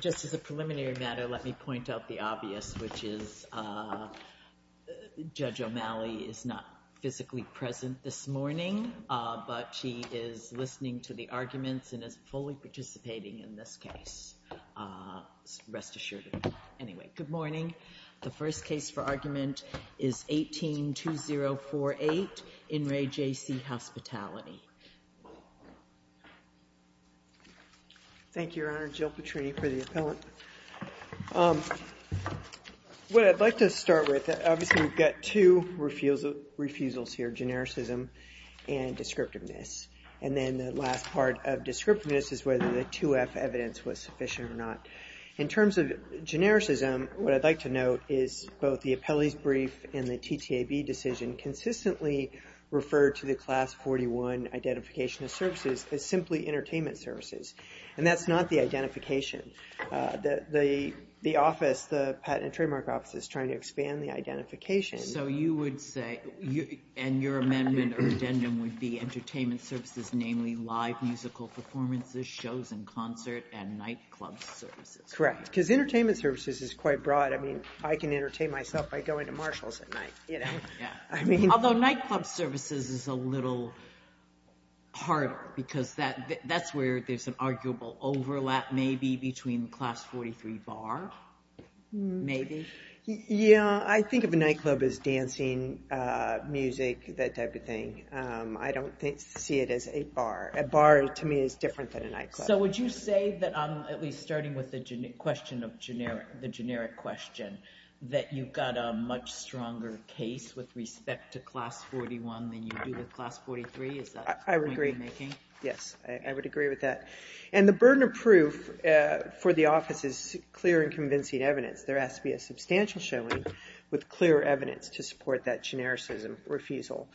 Just as a preliminary matter, let me point out the obvious, which is Judge O'Malley is not physically present this morning, but she is listening to the arguments and is fully participating in this case. Rest assured. Anyway, good morning. The first case for argument is 18-2048 in Re JC Hospitality. Thank you, Your Honor. Jill Petrini for the appellant. What I'd like to start with, obviously we've got two refusals here, genericism and descriptiveness. And then the last part of descriptiveness is whether the 2F evidence was sufficient or not. In terms of genericism, what I'd like to note is both the appellee's brief and the TTAB decision consistently refer to the Class 41 identification of services as simply entertainment services. And that's not the identification. The office, the Patent and Trademark Office is trying to expand the identification. So you would say, and your amendment or addendum would be entertainment services, namely live musical performances, shows and concert, and nightclub services. Correct. Because entertainment services is quite broad. I mean, I can entertain myself by going to Marshall's at night. Although nightclub services is a little harder because that's where there's an arguable overlap maybe between Class 43 bar, maybe. Yeah. I think of a nightclub as dancing, music, that type of thing. I don't see it as a bar. A bar, to me, is different than a nightclub. So would you say that, at least starting with the generic question, that you've got a much stronger case with respect to Class 41 than you do with Class 43? Is that the point you're making? I would agree. Yes. I would agree with that. And the burden of proof for the office is clear and convincing evidence. There has to be a substantial showing with clear evidence to support that genericism refusal.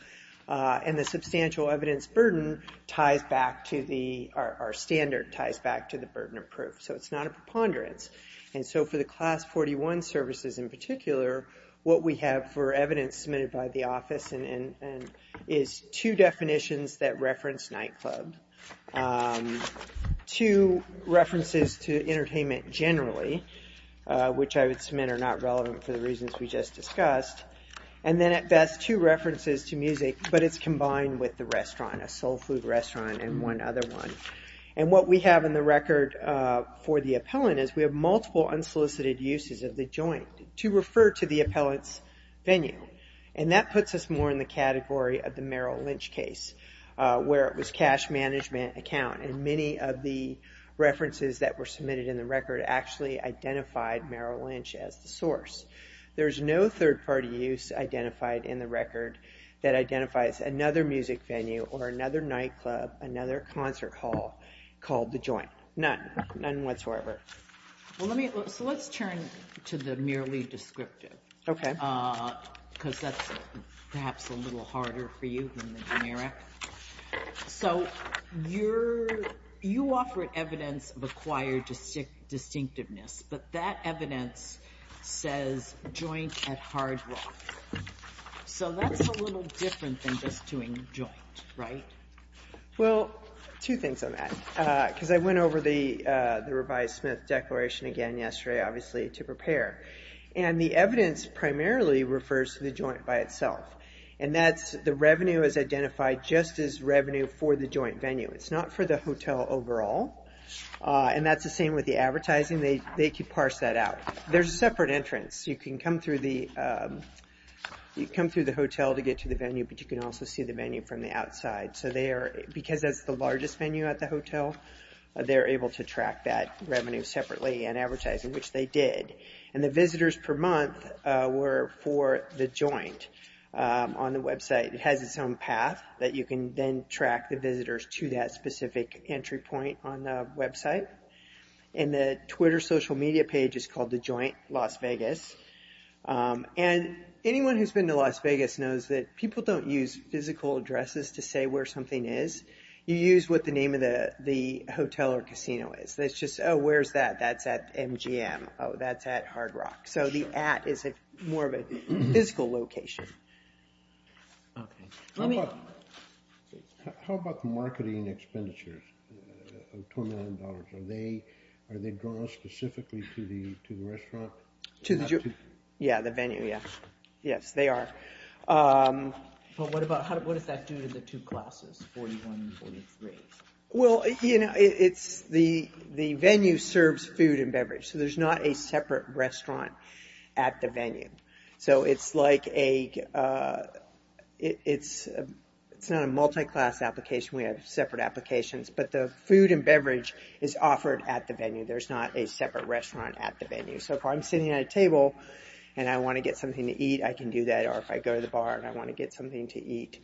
And the substantial evidence burden ties back to the, our standard ties back to the burden of proof. So it's not a preponderance. And so for the Class 41 services in particular, what we have for evidence submitted by the office is two definitions that reference nightclub. Two references to entertainment generally, which I would submit are not relevant for the reasons we just discussed. And then at best, two references to music, but it's combined with the restaurant, a soul food restaurant and one other one. And what we have in the record for the appellant is we have multiple unsolicited uses of the joint to refer to the appellant's venue. And that puts us more in the category of the Merrill Lynch case, where it was cash management account. And many of the references that were submitted in the record actually identified Merrill Lynch as the source. There's no third party use identified in the record that identifies another music venue or another nightclub, another concert hall called the joint. None. None whatsoever. Well, let me, so let's turn to the merely descriptive, because that's perhaps a little harder for you than the generic. So you're, you offer evidence of acquired distinctiveness, but that evidence says joint at Hard Rock. So that's a little different than just doing joint, right? Well, two things on that, because I went over the revised Smith declaration again yesterday obviously to prepare. And the evidence primarily refers to the joint by itself. And that's, the revenue is identified just as revenue for the joint venue. It's not for the hotel overall. And that's the same with the advertising, they could parse that out. There's a separate entrance. You can come through the, you come through the hotel to get to the venue, but you can also see the venue from the outside. So they are, because that's the largest venue at the hotel, they're able to track that revenue separately and advertising, which they did. And the visitors per month were for the joint on the website. It has its own path that you can then track the visitors to that specific entry point on the website. And the Twitter social media page is called the Joint Las Vegas. And anyone who's been to Las Vegas knows that people don't use physical addresses to say where something is. You use what the name of the hotel or casino is. That's just, oh, where's that? That's at MGM. Oh, that's at Hard Rock. So the at is more of a physical location. Okay. Let me... How about the marketing expenditures of $29? Are they drawn specifically to the restaurant? To the... Yeah, the venue, yeah. Yes, they are. But what about, what does that do to the two classes, 41 and 43? Well, you know, it's the venue serves food and beverage. So there's not a separate restaurant at the venue. So it's like a, it's not a multi-class application. We have separate applications. But the food and beverage is offered at the venue. There's not a separate restaurant at the venue. So if I'm sitting at a table and I want to get something to eat, I can do that. Or if I go to the bar and I want to get something to eat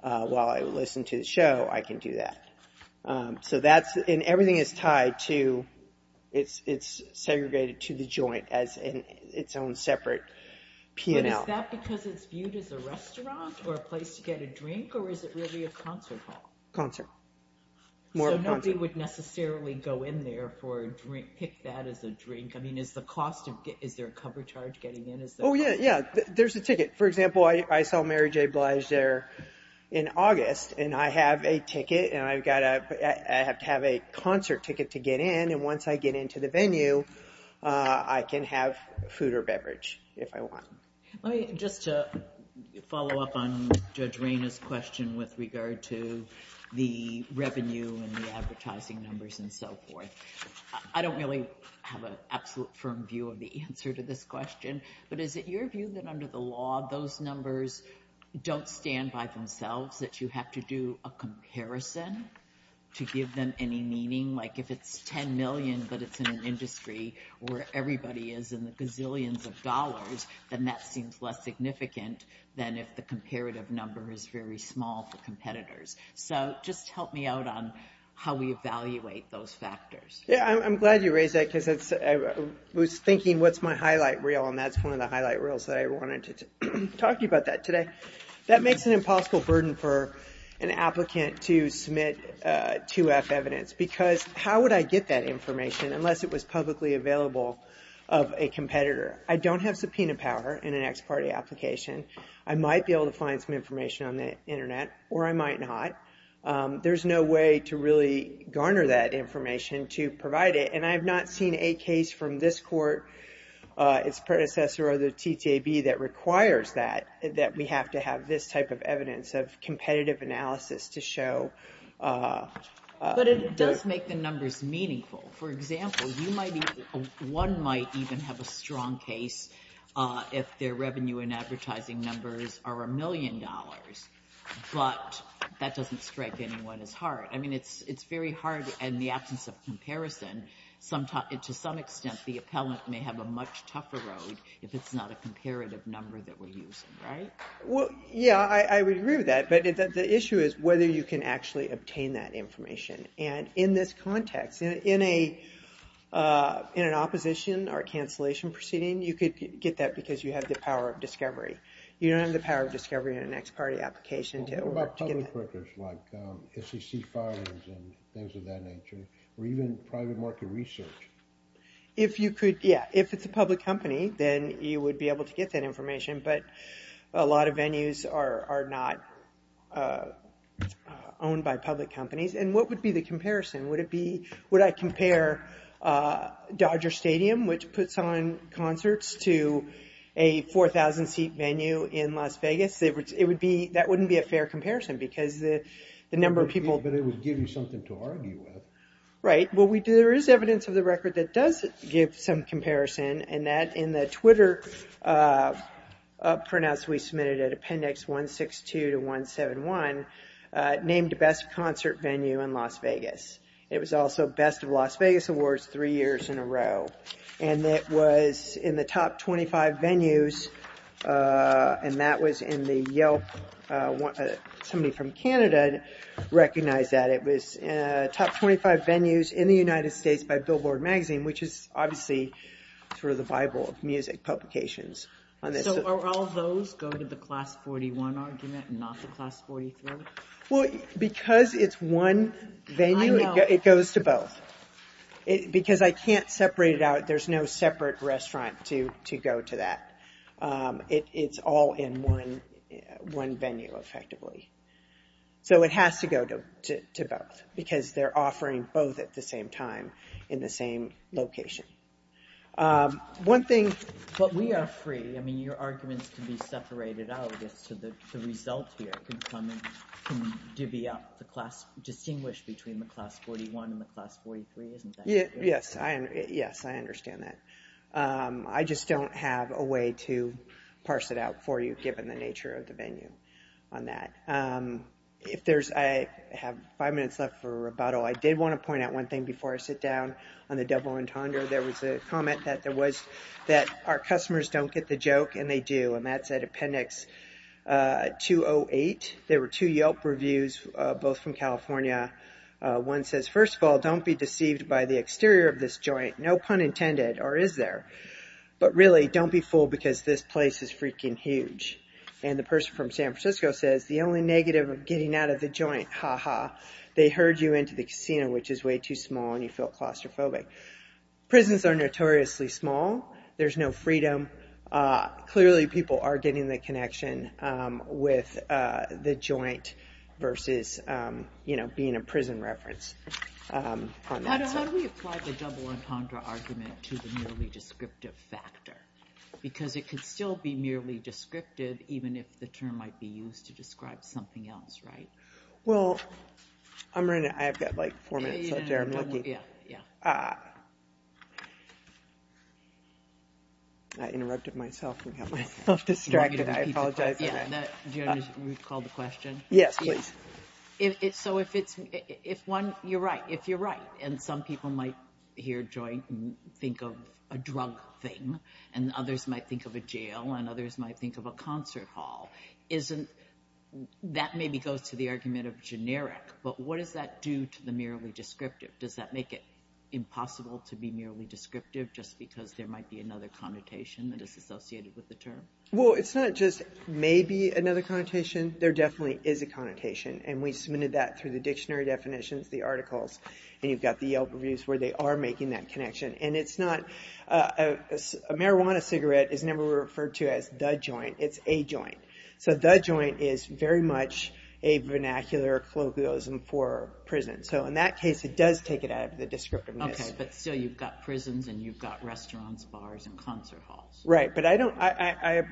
while I listen to the show, I can do that. So that's, and everything is tied to, it's segregated to the joint as in its own separate P&L. But is that because it's viewed as a restaurant or a place to get a drink, or is it really a concert hall? Concert. More of a concert. So nobody would necessarily go in there for a drink, pick that as a drink. I mean, is the cost of, is there a cover charge getting in, is there... Oh yeah, yeah. There's a ticket. For example, I saw Mary J. Blige there in August, and I have a ticket, and I have to have a concert ticket to get in, and once I get into the venue, I can have food or beverage if I want. Let me, just to follow up on Judge Reyna's question with regard to the revenue and the advertising numbers and so forth. I don't really have an absolute firm view of the answer to this question, but is it your view that under the law, those numbers don't stand by themselves, that you have to do a comparison to give them any meaning? Like if it's 10 million, but it's in an industry where everybody is in the gazillions of dollars, then that seems less significant than if the comparative number is very small for competitors. So just help me out on how we evaluate those factors. Yeah, I'm glad you raised that, because I was thinking, what's my highlight reel, and that's one of the highlight reels that I wanted to talk to you about that today. That makes an impossible burden for an applicant to submit 2F evidence, because how would I get that information unless it was publicly available of a competitor? I don't have subpoena power in an ex parte application. I might be able to find some information on the internet, or I might not. There's no way to really garner that information to provide it, and I have not seen a case from this court, its predecessor or the TTAB that requires that, that we have to have this type of evidence of competitive analysis to show. But it does make the numbers meaningful. For example, one might even have a strong case if their revenue and advertising numbers are a million dollars, but that doesn't strike anyone as hard. I mean, it's very hard in the absence of comparison. To some extent, the appellant may have a much tougher road if it's not a comparative number that we're using, right? Well, yeah, I would agree with that, but the issue is whether you can actually obtain that information. And in this context, in an opposition or cancellation proceeding, you could get that because you have the power of discovery. You don't have the power of discovery in an ex parte application to get that. What about public records, like SEC files and things of that nature, or even private market research? If you could, yeah, if it's a public company, then you would be able to get that information, but a lot of venues are not owned by public companies. And what would be the comparison? Would it be, would I compare Dodger Stadium, which puts on concerts, to a 4,000 seat venue in Las Vegas? It would be, that wouldn't be a fair comparison because the number of people. But it would give you something to argue with. Right. Well, we do, there is evidence of the record that does give some comparison, and that in the Twitter printouts we submitted at appendix 162 to 171, named the best concert venue in Las Vegas. It was also best of Las Vegas awards three years in a row, and it was in the top 25 venues, and that was in the Yelp, somebody from Canada recognized that. It was top 25 venues in the United States by Billboard magazine, which is obviously sort of the bible of music publications. So, are all those go to the class 41 argument and not the class 43? Well, because it's one venue, it goes to both. Because I can't separate it out, there's no separate restaurant to go to that. It's all in one venue, effectively. So it has to go to both, because they're offering both at the same time, in the same location. One thing, but we are free, I mean, your arguments can be separated out, I guess, so the result here can come in, can divvy up the class, distinguish between the class 41 and the class 43, isn't that what you're saying? Yes, yes, I understand that. I just don't have a way to parse it out for you, given the nature of the venue on that. If there's, I have five minutes left for rebuttal. I did want to point out one thing before I sit down on the double entendre. There was a comment that there was, that our customers don't get the joke, and they do, and that's at appendix 208. There were two Yelp reviews, both from California. One says, first of all, don't be deceived by the exterior of this joint, no pun intended, or is there? But really, don't be fooled, because this place is freaking huge. And the person from San Francisco says, the only negative of getting out of the joint, ha ha, they herd you into the casino, which is way too small, and you feel claustrophobic. Prisons are notoriously small. There's no freedom. Clearly, people are getting the connection with the joint, versus, you know, being a prison reference. On that side. How do we apply the double entendre argument to the merely descriptive factor? Because it could still be merely descriptive, even if the term might be used to describe something else, right? Well, I'm running, I've got like four minutes left here, I'm lucky. Yeah, yeah. So, I interrupted myself, and got myself distracted, I apologize. Yeah, do you want me to recall the question? Yes, please. So, if it's, if one, you're right, if you're right, and some people might hear joint, think of a drug thing, and others might think of a jail, and others might think of a concert hall, isn't, that maybe goes to the argument of generic, but what does that do to the merely descriptive? Does that make it impossible to be merely descriptive, just because there might be another connotation that is associated with the term? Well, it's not just maybe another connotation, there definitely is a connotation, and we submitted that through the dictionary definitions, the articles, and you've got the Yelp reviews where they are making that connection, and it's not, a marijuana cigarette is never referred to as the joint, it's a joint, so the joint is very much a vernacular colloquialism for prison. So, in that case, it does take it out of the descriptiveness. Okay, but still, you've got prisons, and you've got restaurants, bars, and concert halls. Right, but I don't, I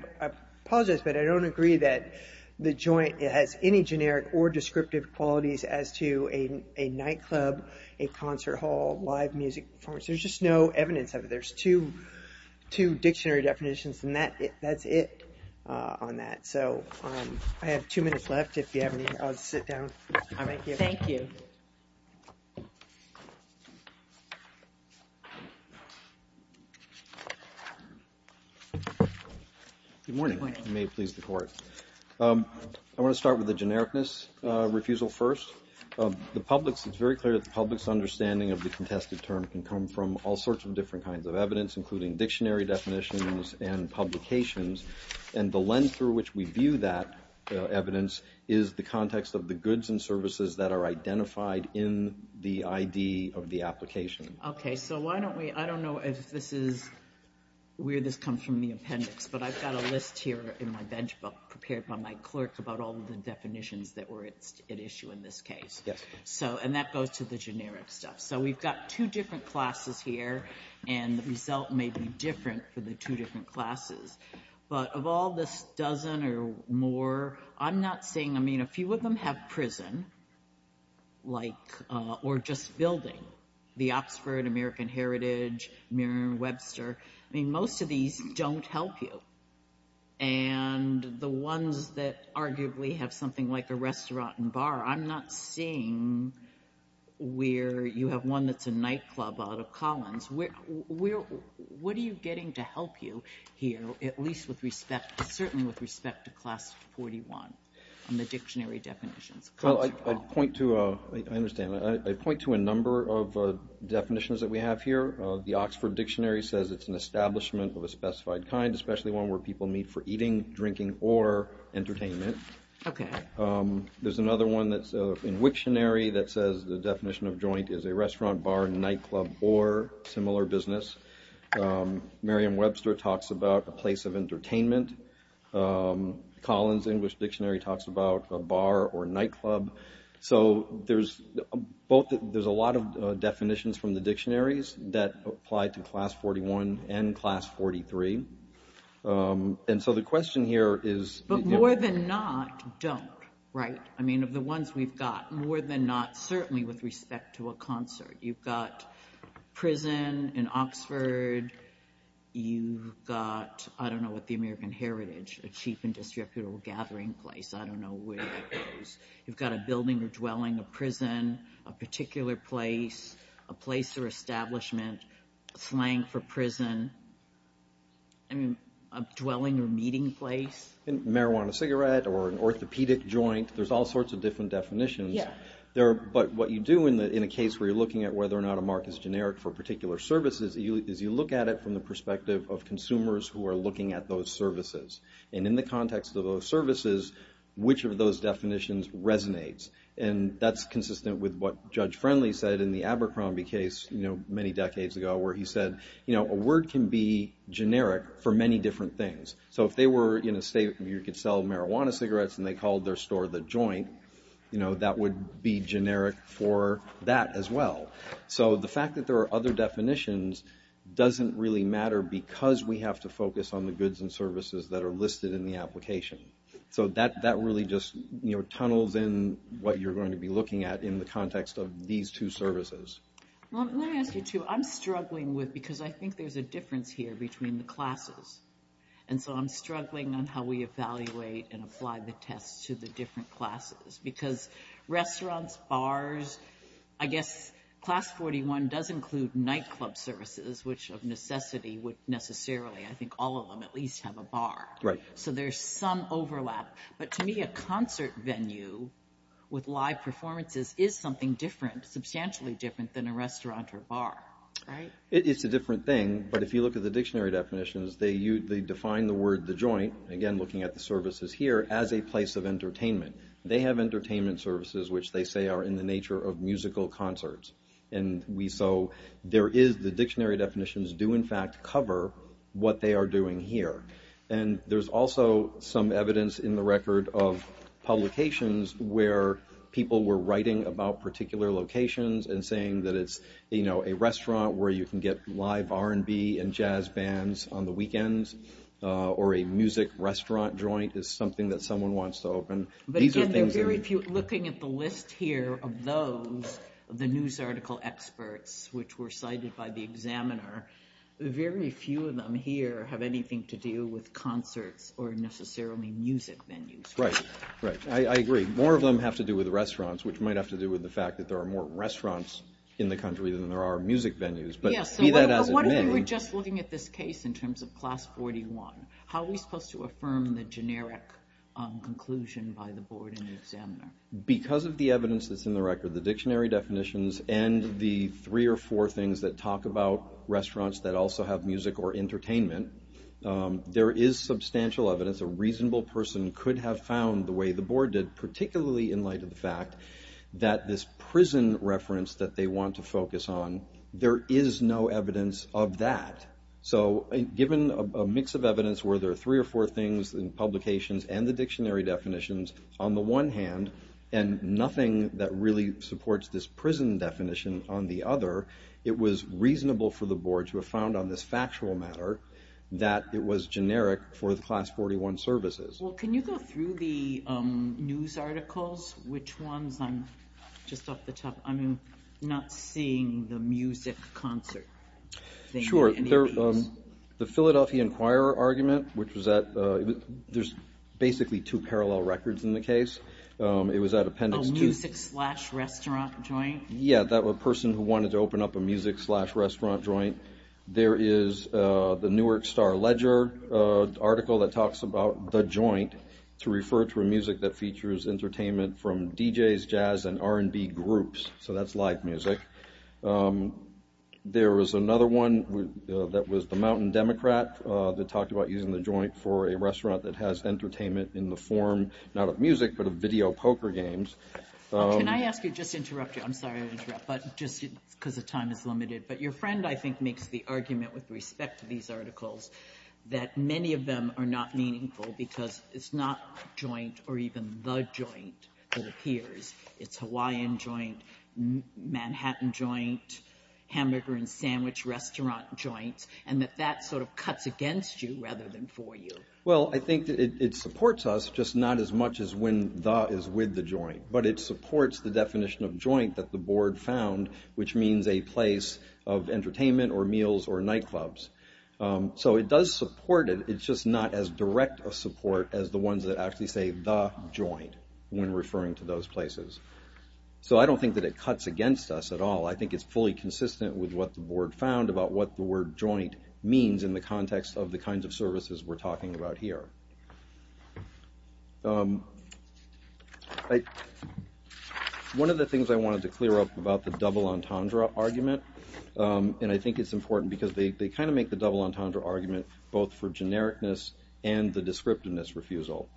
apologize, but I don't agree that the joint has any generic or descriptive qualities as to a nightclub, a concert hall, live music performance, there's just no evidence of it, there's two dictionary definitions, and that's it on that. So, I have two minutes left, if you have any, I'll sit down right here. Thank you. Good morning, if you may please the court. I want to start with the genericness refusal first. The public's, it's very clear that the public's understanding of the contested term can come from all sorts of different kinds of evidence, including dictionary definitions and publications, and the lens through which we view that evidence is the context of the goods and services that are identified in the ID of the application. Okay, so why don't we, I don't know if this is, where this comes from in the appendix, but I've got a list here in my bench book prepared by my clerk about all the definitions that were at issue in this case. Yes. So, and that goes to the generic stuff. So, we've got two different classes here, and the result may be different for the two different classes, but of all this dozen or more, I'm not seeing, I mean, a few of them have prison, like, or just building. The Oxford, American Heritage, Merriam-Webster, I mean, most of these don't help you. And the ones that arguably have something like a restaurant and bar, I'm not seeing where you have one that's a nightclub out of Collins. What are you getting to help you here, at least with respect, certainly with respect to class 41 and the dictionary definitions? I point to, I understand, I point to a number of definitions that we have here. The Oxford Dictionary says it's an establishment of a specified kind, especially one where people meet for eating, drinking, or entertainment. Okay. There's another one that's in Wiktionary that says the definition of joint is a restaurant, bar, nightclub, or similar business. Merriam-Webster talks about a place of entertainment. Collins English Dictionary talks about a bar or nightclub. So there's both, there's a lot of definitions from the dictionaries that apply to class 41 and class 43. And so the question here is... But more than not, don't, right? I mean, of the ones we've got, more than not, certainly with respect to a concert. You've got prison in Oxford. You've got, I don't know what the American Heritage, a cheap and disreputable gathering place. I don't know where that goes. You've got a building or dwelling, a prison, a particular place, a place or establishment, slang for prison. I mean, a dwelling or meeting place. Marijuana, cigarette, or an orthopedic joint. There's all sorts of different definitions. Yeah. But what you do in a case where you're looking at whether or not a mark is generic for a particular service is you look at it from the perspective of consumers who are looking at those services. And in the context of those services, which of those definitions resonates? And that's consistent with what Judge Friendly said in the Abercrombie case, you know, many decades ago, where he said, you know, a word can be generic for many different things. So if they were in a state where you could sell marijuana cigarettes and they called their store the joint, you know, that would be generic for that as well. So the fact that there are other definitions doesn't really matter because we have to focus on the goods and services that are listed in the application. So that really just, you know, tunnels in what you're going to be looking at in the context of these two services. Well, let me ask you, too. I'm struggling with, because I think there's a difference here between the classes. And so I'm struggling on how we evaluate and apply the tests to the different classes because restaurants, bars, I guess Class 41 does include nightclub services, which of necessity would necessarily, I think all of them at least, have a bar. Right. So there's some overlap. But to me, a concert venue with live performances is something different, substantially different than a restaurant or bar, right? It's a different thing. But if you look at the dictionary definitions, they define the word the joint, again, looking at the services here, as a place of entertainment. They have entertainment services, which they say are in the nature of musical concerts. And so the dictionary definitions do, in fact, cover what they are doing here. And there's also some evidence in the record of publications where people were writing about particular locations and saying that it's, you know, a restaurant where you can get live R&B and jazz bands on the weekends or a music restaurant joint is something that someone wants to open. These are things that... But again, there are very few, looking at the list here of those, the news article experts which were cited by the examiner, very few of them here have anything to do with concerts or necessarily music venues. Right. Right. I agree. More of them have to do with restaurants, which might have to do with the fact that there are more restaurants in the country than there are music venues. Yes. But be that as it may... But what if we were just looking at this case in terms of Class 41? How are we supposed to affirm the generic conclusion by the board and the examiner? Because of the evidence that's in the record, the dictionary definitions and the three or four things that talk about restaurants that also have music or entertainment, there is substantial evidence a reasonable person could have found the way the board did, particularly in light of the fact that this prison reference that they want to focus on, there is no evidence of that. So given a mix of evidence where there are three or four things in publications and the dictionary definitions on the one hand and nothing that really supports this prison definition on the other, it was reasonable for the board to have found on this factual matter that it was generic for the Class 41 services. Well, can you go through the news articles? Which ones? I'm just off the top. I'm not seeing the music concert thing in any of these. Sure. The Philadelphia Inquirer argument, which was at... There's basically two parallel records in the case. It was at Appendix 2. A music-slash-restaurant joint? Yeah, that person who wanted to open up a music-slash-restaurant joint. There is the Newark Star-Ledger article that talks about the joint to refer to a music that features entertainment from DJs, jazz, and R&B groups. So that's live music. There was another one that was the Mountain Democrat that talked about using the joint for a restaurant that has entertainment in the form, not of music, but of video poker games. Can I ask you... Just to interrupt you. I'm sorry to interrupt, but just because the time is limited. But your friend, I think, makes the argument with respect to these articles that many of them are not meaningful because it's not joint or even the joint that appears. It's Hawaiian joint, Manhattan joint, hamburger-and-sandwich-restaurant joint, and that that sort of cuts against you rather than for you. Well, I think that it supports us, just not as much as when the is with the joint. But it supports the definition of joint that the board found, which means a place of entertainment or meals or nightclubs. So it does support it. It's just not as direct a support as the ones that actually say the joint when referring to those places. So I don't think that it cuts against us at all. I think it's fully consistent with what the board found about what the word joint means in the context of the kinds of services we're talking about here. One of the things I wanted to clear up about the double entendre argument, and I think it's important because they kind of make the double entendre argument both for genericness and the descriptiveness refusal.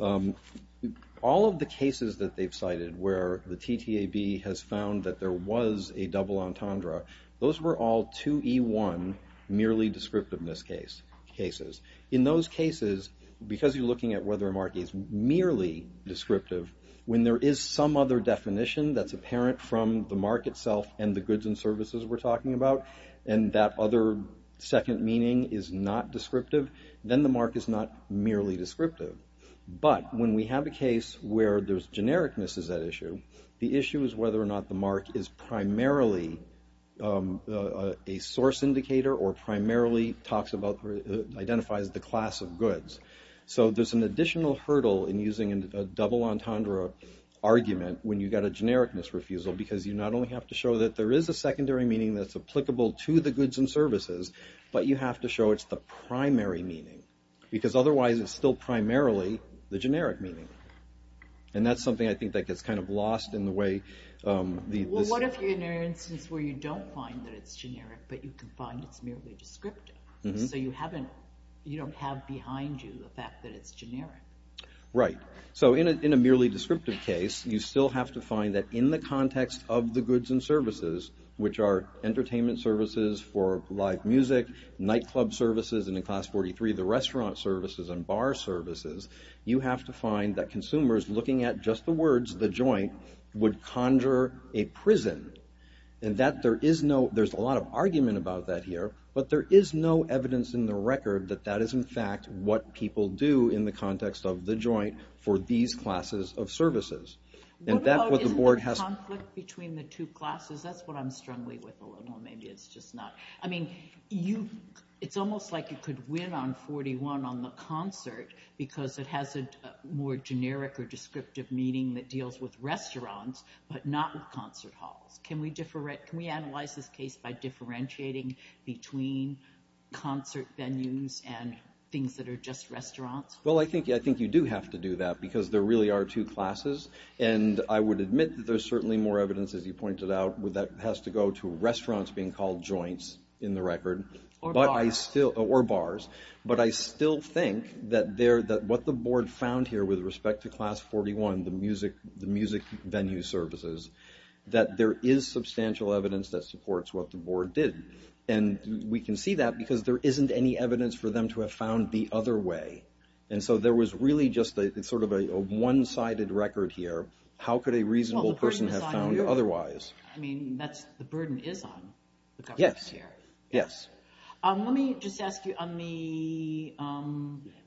All of the cases that they've cited where the TTAB has found that there was a double entendre, those were all 2E1 merely descriptiveness cases. In those cases, because you're looking at whether a mark is merely descriptive, when there is some other definition that's apparent from the mark itself and the goods and services we're talking about, and that other second meaning is not descriptive, then the mark is not merely descriptive. But when we have a case where there's genericness is at issue, the issue is whether or not the mark is primarily a source indicator or primarily talks about, identifies the class of goods. So there's an additional hurdle in using a double entendre argument when you've got a genericness refusal, because you not only have to show that there is a secondary meaning that's applicable to the goods and services, but you have to show it's the primary meaning. Because otherwise it's still primarily the generic meaning. And that's something I think that gets kind of lost in the way... Well, what if you're in an instance where you don't find that it's generic, but you can find it's merely descriptive? So you don't have behind you the fact that it's generic. Right. So in a merely descriptive case, you still have to find that in the context of the goods and services, which are entertainment services for live music, nightclub services, and in Class 43, the restaurant services and bar services, you have to find that consumers looking at just the words, the joint, would conjure a prison. And that there is no... There's a lot of argument about that here, but there is no evidence in the record that that is in fact what people do in the context of the joint for these classes of services. And that's what the board has... What about the conflict between the two classes? That's what I'm struggling with a little. Maybe it's just not... I mean, it's almost like you could win on 41 on the concert because it has a more generic or descriptive meaning that deals with restaurants, but not with concert halls. Can we analyze this case by differentiating between concert venues and things that are just restaurants? Well, I think you do have to do that because there really are two classes, and I would admit that there's certainly more evidence, as you pointed out, that has to go to restaurants being called joints in the record. Or bars. Or bars. But I still think that what the board found here with respect to Class 41, the music venue services, that there is substantial evidence that supports what the board did. And we can see that because there isn't any evidence for them to have found the other way. And so there was really just sort of a one-sided record here. How could a reasonable person have found otherwise? Well, the burden is on you. I mean, that's... the burden is on the government here. Yes. Let me just ask you on the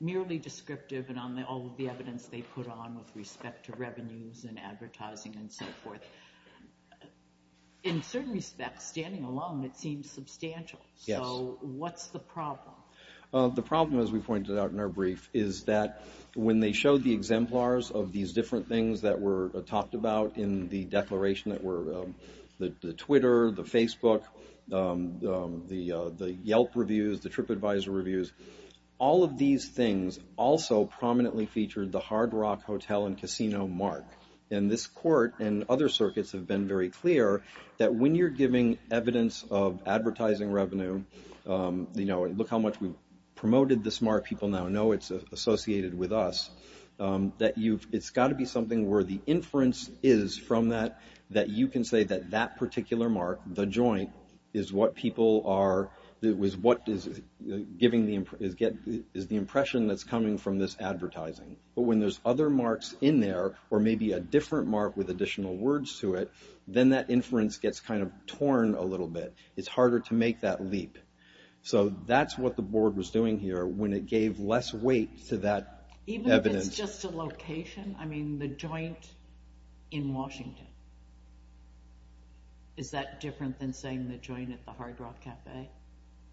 merely descriptive and on all of the evidence they put on with respect to revenues and advertising and so forth. In certain respects, standing alone, it seems substantial. Yes. So what's the problem? The problem, as we pointed out in our brief, is that when they showed the exemplars of these different things that were talked about in the declaration that were... the Twitter, the Facebook, the Yelp reviews, the TripAdvisor reviews, all of these things also prominently featured the Hard Rock Hotel and Casino mark. And this court and other circuits have been very clear that when you're giving evidence of advertising revenue, you know, look how much we've promoted this mark. People now know it's associated with us. That you've... it's got to be something where the inference is from that, that you can say that that particular mark, the joint, is what people are... giving the... is the impression that's coming from this advertising. But when there's other marks in there or maybe a different mark with additional words to it, then that inference gets kind of torn a little bit. It's harder to make that leap. So that's what the board was doing here when it gave less weight to that evidence. Even if it's just a location? I mean, the joint in Washington. Is that different than saying the joint at the Hard Rock Cafe? I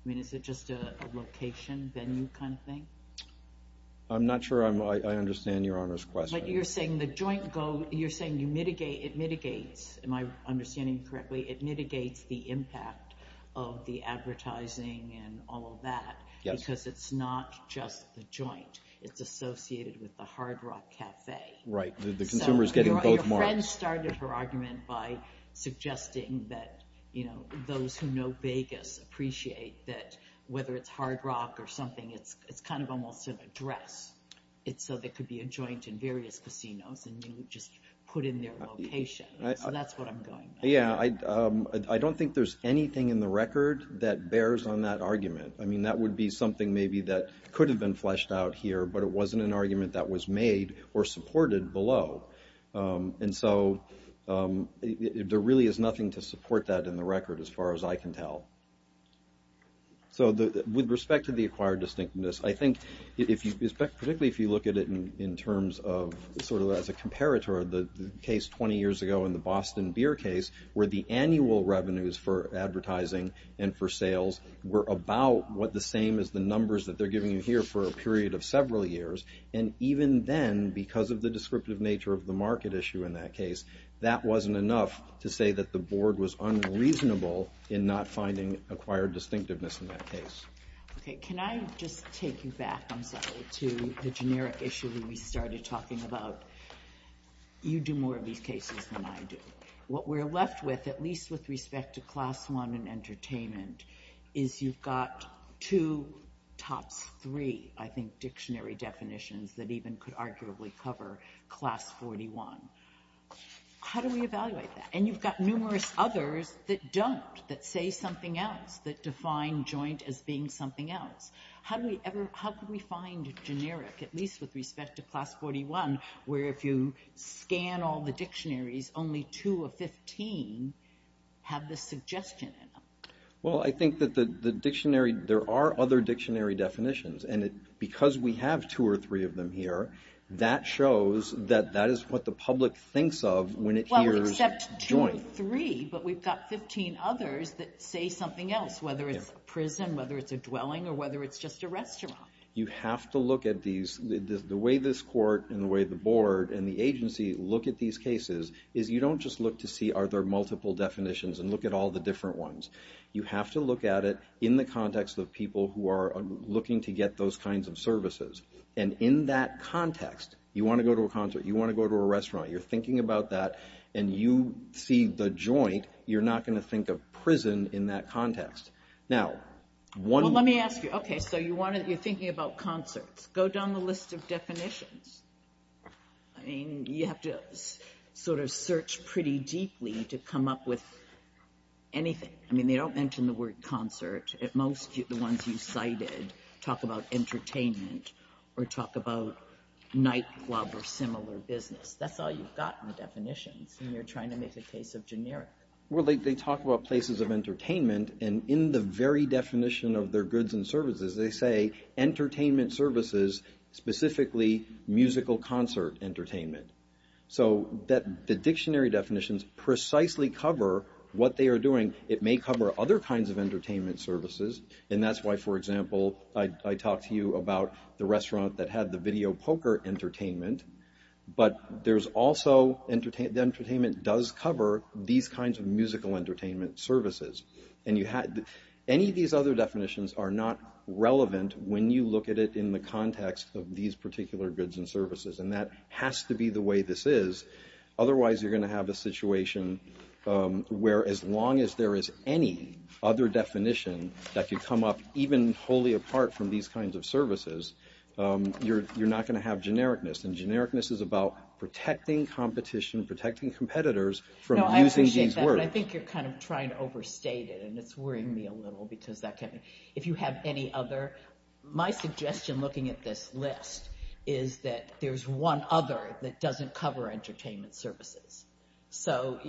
mean, is it just a location, venue kind of thing? I'm not sure I'm... I understand Your Honor's question. But you're saying the joint go... you're saying you mitigate... it mitigates... am I understanding you correctly? It mitigates the impact of the advertising and all of that. Yes. Because it's not just the joint. It's associated with the Hard Rock Cafe. Right. The consumer is getting both marks. So your friend started her argument by suggesting that, you know, those who know Vegas appreciate that whether it's Hard Rock or something, it's kind of almost an address. It's so there could be a joint in various casinos and you just put in their location. So that's what I'm going by. Yeah, I don't think there's anything in the record that bears on that argument. I mean, that would be something maybe that could have been fleshed out here, but it wasn't an argument that was made or supported below. And so there really is nothing to support that in the record as far as I can tell. So with respect to the acquired distinctiveness, I think if you... particularly if you look at it in terms of sort of as a comparator, the case 20 years ago in the Boston beer case, where the annual revenues for advertising and for sales were about what the same as the numbers that they're giving you here for a period of several years. And even then, because of the descriptive nature of the market issue in that case, that wasn't enough to say that the board was unreasonable in not finding acquired distinctiveness in that case. Okay, can I just take you back, I'm sorry, to the generic issue that we started talking about? You do more of these cases than I do. What we're left with, at least with respect to Class I and entertainment, is you've got two, tops three, I think, dictionary definitions that even could arguably cover Class 41. How do we evaluate that? And you've got numerous others that don't, that say something else, that define joint as being something else. How do we ever... how could we find generic, at least with respect to Class 41, where if you scan all the dictionaries, only two of 15 have the suggestion in them? Well, I think that the dictionary... there are other dictionary definitions, and because we have two or three of them here, that shows that that is what the public thinks of when it hears joint. Well, except two or three, but we've got 15 others that say something else, whether it's a prison, whether it's a dwelling, or whether it's just a restaurant. You have to look at these... the way this court, and the way the board, and the agency look at these cases is you don't just look to see, are there multiple definitions, and look at all the different ones. You have to look at it in the context of people who are looking to get those kinds of services. And in that context, you want to go to a concert, you want to go to a restaurant, you're thinking about that, and you see the joint, you're not going to think of prison in that context. Now, one... Well, let me ask you, okay, so you're thinking about concerts. Go down the list of definitions. I mean, you have to sort of search pretty deeply to come up with anything. I mean, they don't mention the word concert. At most, the ones you cited talk about entertainment or talk about nightclub or similar business. That's all you've got in the definitions, and you're trying to make a case of generic. Well, they talk about places of entertainment, and in the very definition of their goods and services, they say entertainment services, specifically musical concert entertainment. So the dictionary definitions precisely cover what they are doing. It may cover other kinds of entertainment services, and that's why, for example, I talked to you about the restaurant that had the video poker entertainment, but there's also... The entertainment does cover these kinds of musical entertainment services. And you have... Any of these other definitions are not relevant when you look at it in the context of these particular goods and services, and that has to be the way this is. Otherwise, you're going to have a situation where as long as there is any other definition that could come up even wholly apart from these kinds of services, you're not going to have genericness, and genericness is about protecting competition, protecting competitors from using these words. I think you're kind of trying to overstate it, and it's worrying me a little, because if you have any other... My suggestion looking at this list is that there's one other that doesn't cover entertainment services. So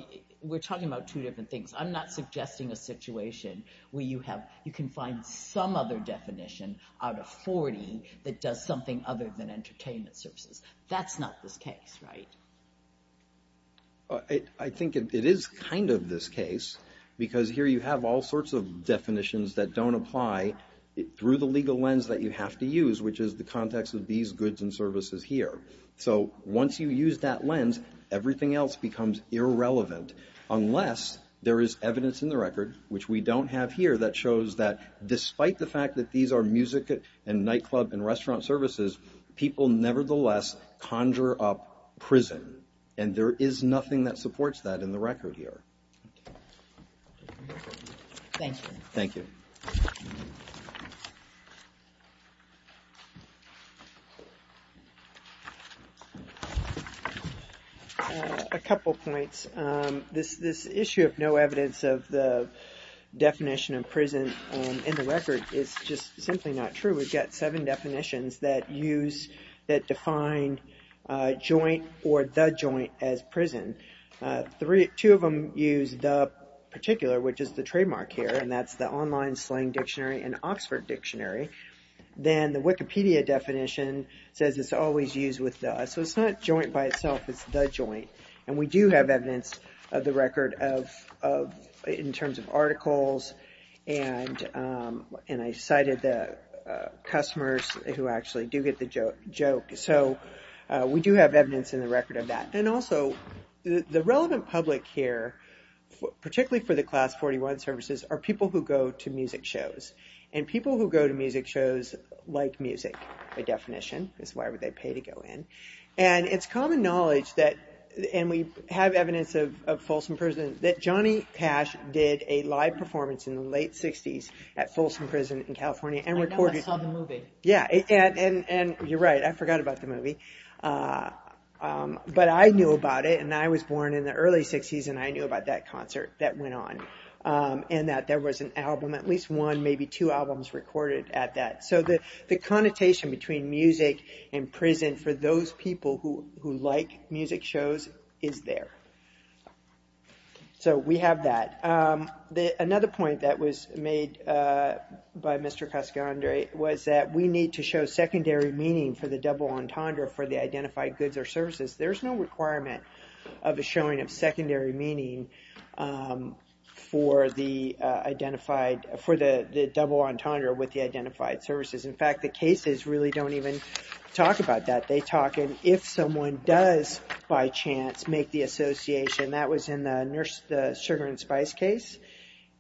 we're talking about two different things. I'm not suggesting a situation where you have... You can find some other definition out of 40 that does something other than entertainment services. That's not this case, right? I think it is kind of this case, because here you have all sorts of definitions that don't apply through the legal lens that you have to use, which is the context of these goods and services here. So once you use that lens, everything else becomes irrelevant unless there is evidence in the record, which we don't have here, that shows that despite the fact that these are music and nightclub and restaurant services, people nevertheless conjure up prison. And there is nothing that supports that in the record here. Thank you. Thank you. A couple points. This issue of no evidence of the definition of prison in the record is just simply not true. We've got seven definitions that use... that define joint or the joint as prison. Two of them use the particular, which is the trademark here, and that's the Online Slang Dictionary and Oxford Dictionary. Then the Wikipedia definition says it's always used with the. So it's not joint by itself, it's the joint. And we do have evidence of the record in terms of articles and I cited the customers who actually do get the joke. So we do have evidence in the record of that. And also the relevant public here, particularly for the Class 41 services, are people who go to music shows. And people who go to music shows like music by definition. That's why they pay to go in. And it's common knowledge that and we have evidence of Folsom Prison that Johnny Cash did a live performance in the late 60s at Folsom Prison in California and recorded... And you're right, I forgot about the movie. But I knew about it and I was born in the early 60s and I knew about that concert that went on. And that there was an album, at least one, maybe two albums recorded at that. So the connotation between music and prison for those people who like music shows is there. So we have that. Another point that was made by Mr. Cascandre was that we need to show secondary meaning for the double entendre for the identified goods or services. There's no requirement of a showing of secondary meaning for the identified for the double entendre with the identified services. In fact, the cases really don't even talk about that. They talk if someone does by chance make the association. That was in the Sugar and Spice case.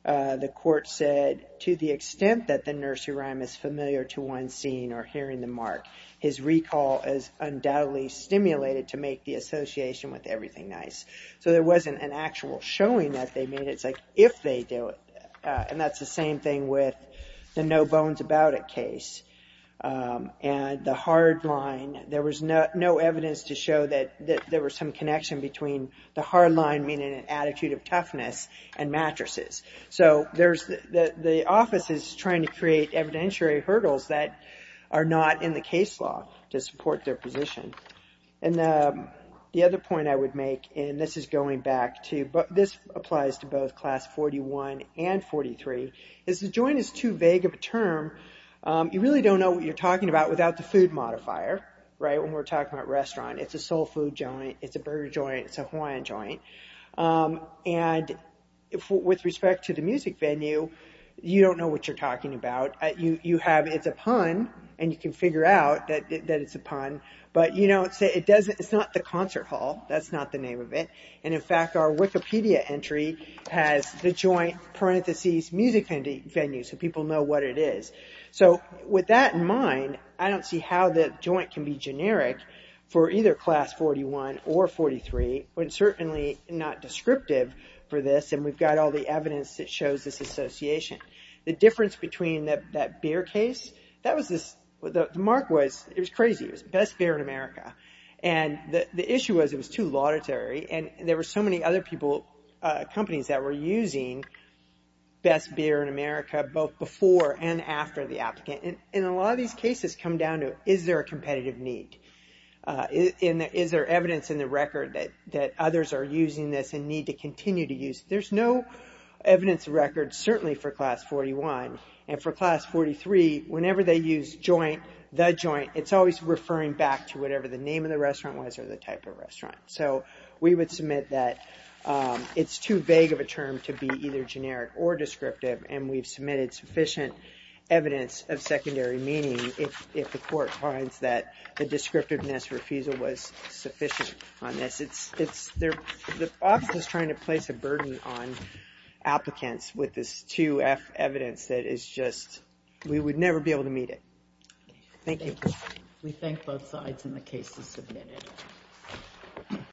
The court said to the extent that the nursery rhyme is familiar to one seeing or hearing the mark, his recall is undoubtedly stimulated to make the association with everything nice. So there wasn't an actual showing that they made. It's like if they do it. And that's the same thing with the No Bones About It case. And the hard line, there was no evidence to show that there was some connection between the hard line, meaning an attitude of toughness, and mattresses. So the office is trying to create evidentiary hurdles that are not in the case law to support their position. And the other point I would make, and this is going back to, this applies to both Class 41 and 43, is the joint is too vague of a term. You really don't know what you're talking about without the food modifier. When we're talking about restaurant, it's a soul food joint, it's a burger joint, it's a Hawaiian joint. And with respect to the what you're talking about, you have it's a pun, and you can figure out that it's a pun, but you know it's not the concert hall. That's not the name of it. And in fact, our Wikipedia entry has the joint parenthesis music venue, so people know what it is. So with that in mind, I don't see how the joint can be generic for either Class 41 or 43. It's certainly not descriptive for this, and we've got all the evidence that shows this association. The difference between that beer case, that was this, the mark was, it was crazy, it was Best Beer in America. And the issue was it was too laudatory, and there were so many other people, companies, that were using Best Beer in America, both before and after the applicant. And a lot of these cases come down to, is there a competitive need? Is there evidence in the record that others are using this and need to continue to use? There's no evidence in the record, certainly for Class 41, and for Class 43, whenever they use joint, the joint, it's always referring back to whatever the name of the restaurant was or the type of restaurant. So we would submit that it's too vague of a term to be either generic or descriptive, and we've submitted sufficient evidence of secondary meaning if the court finds that the descriptiveness refusal was sufficient on this. The office is trying to place a burden on applicants with this evidence that is just we would never be able to meet it. Thank you. We thank both sides, and the case is submitted.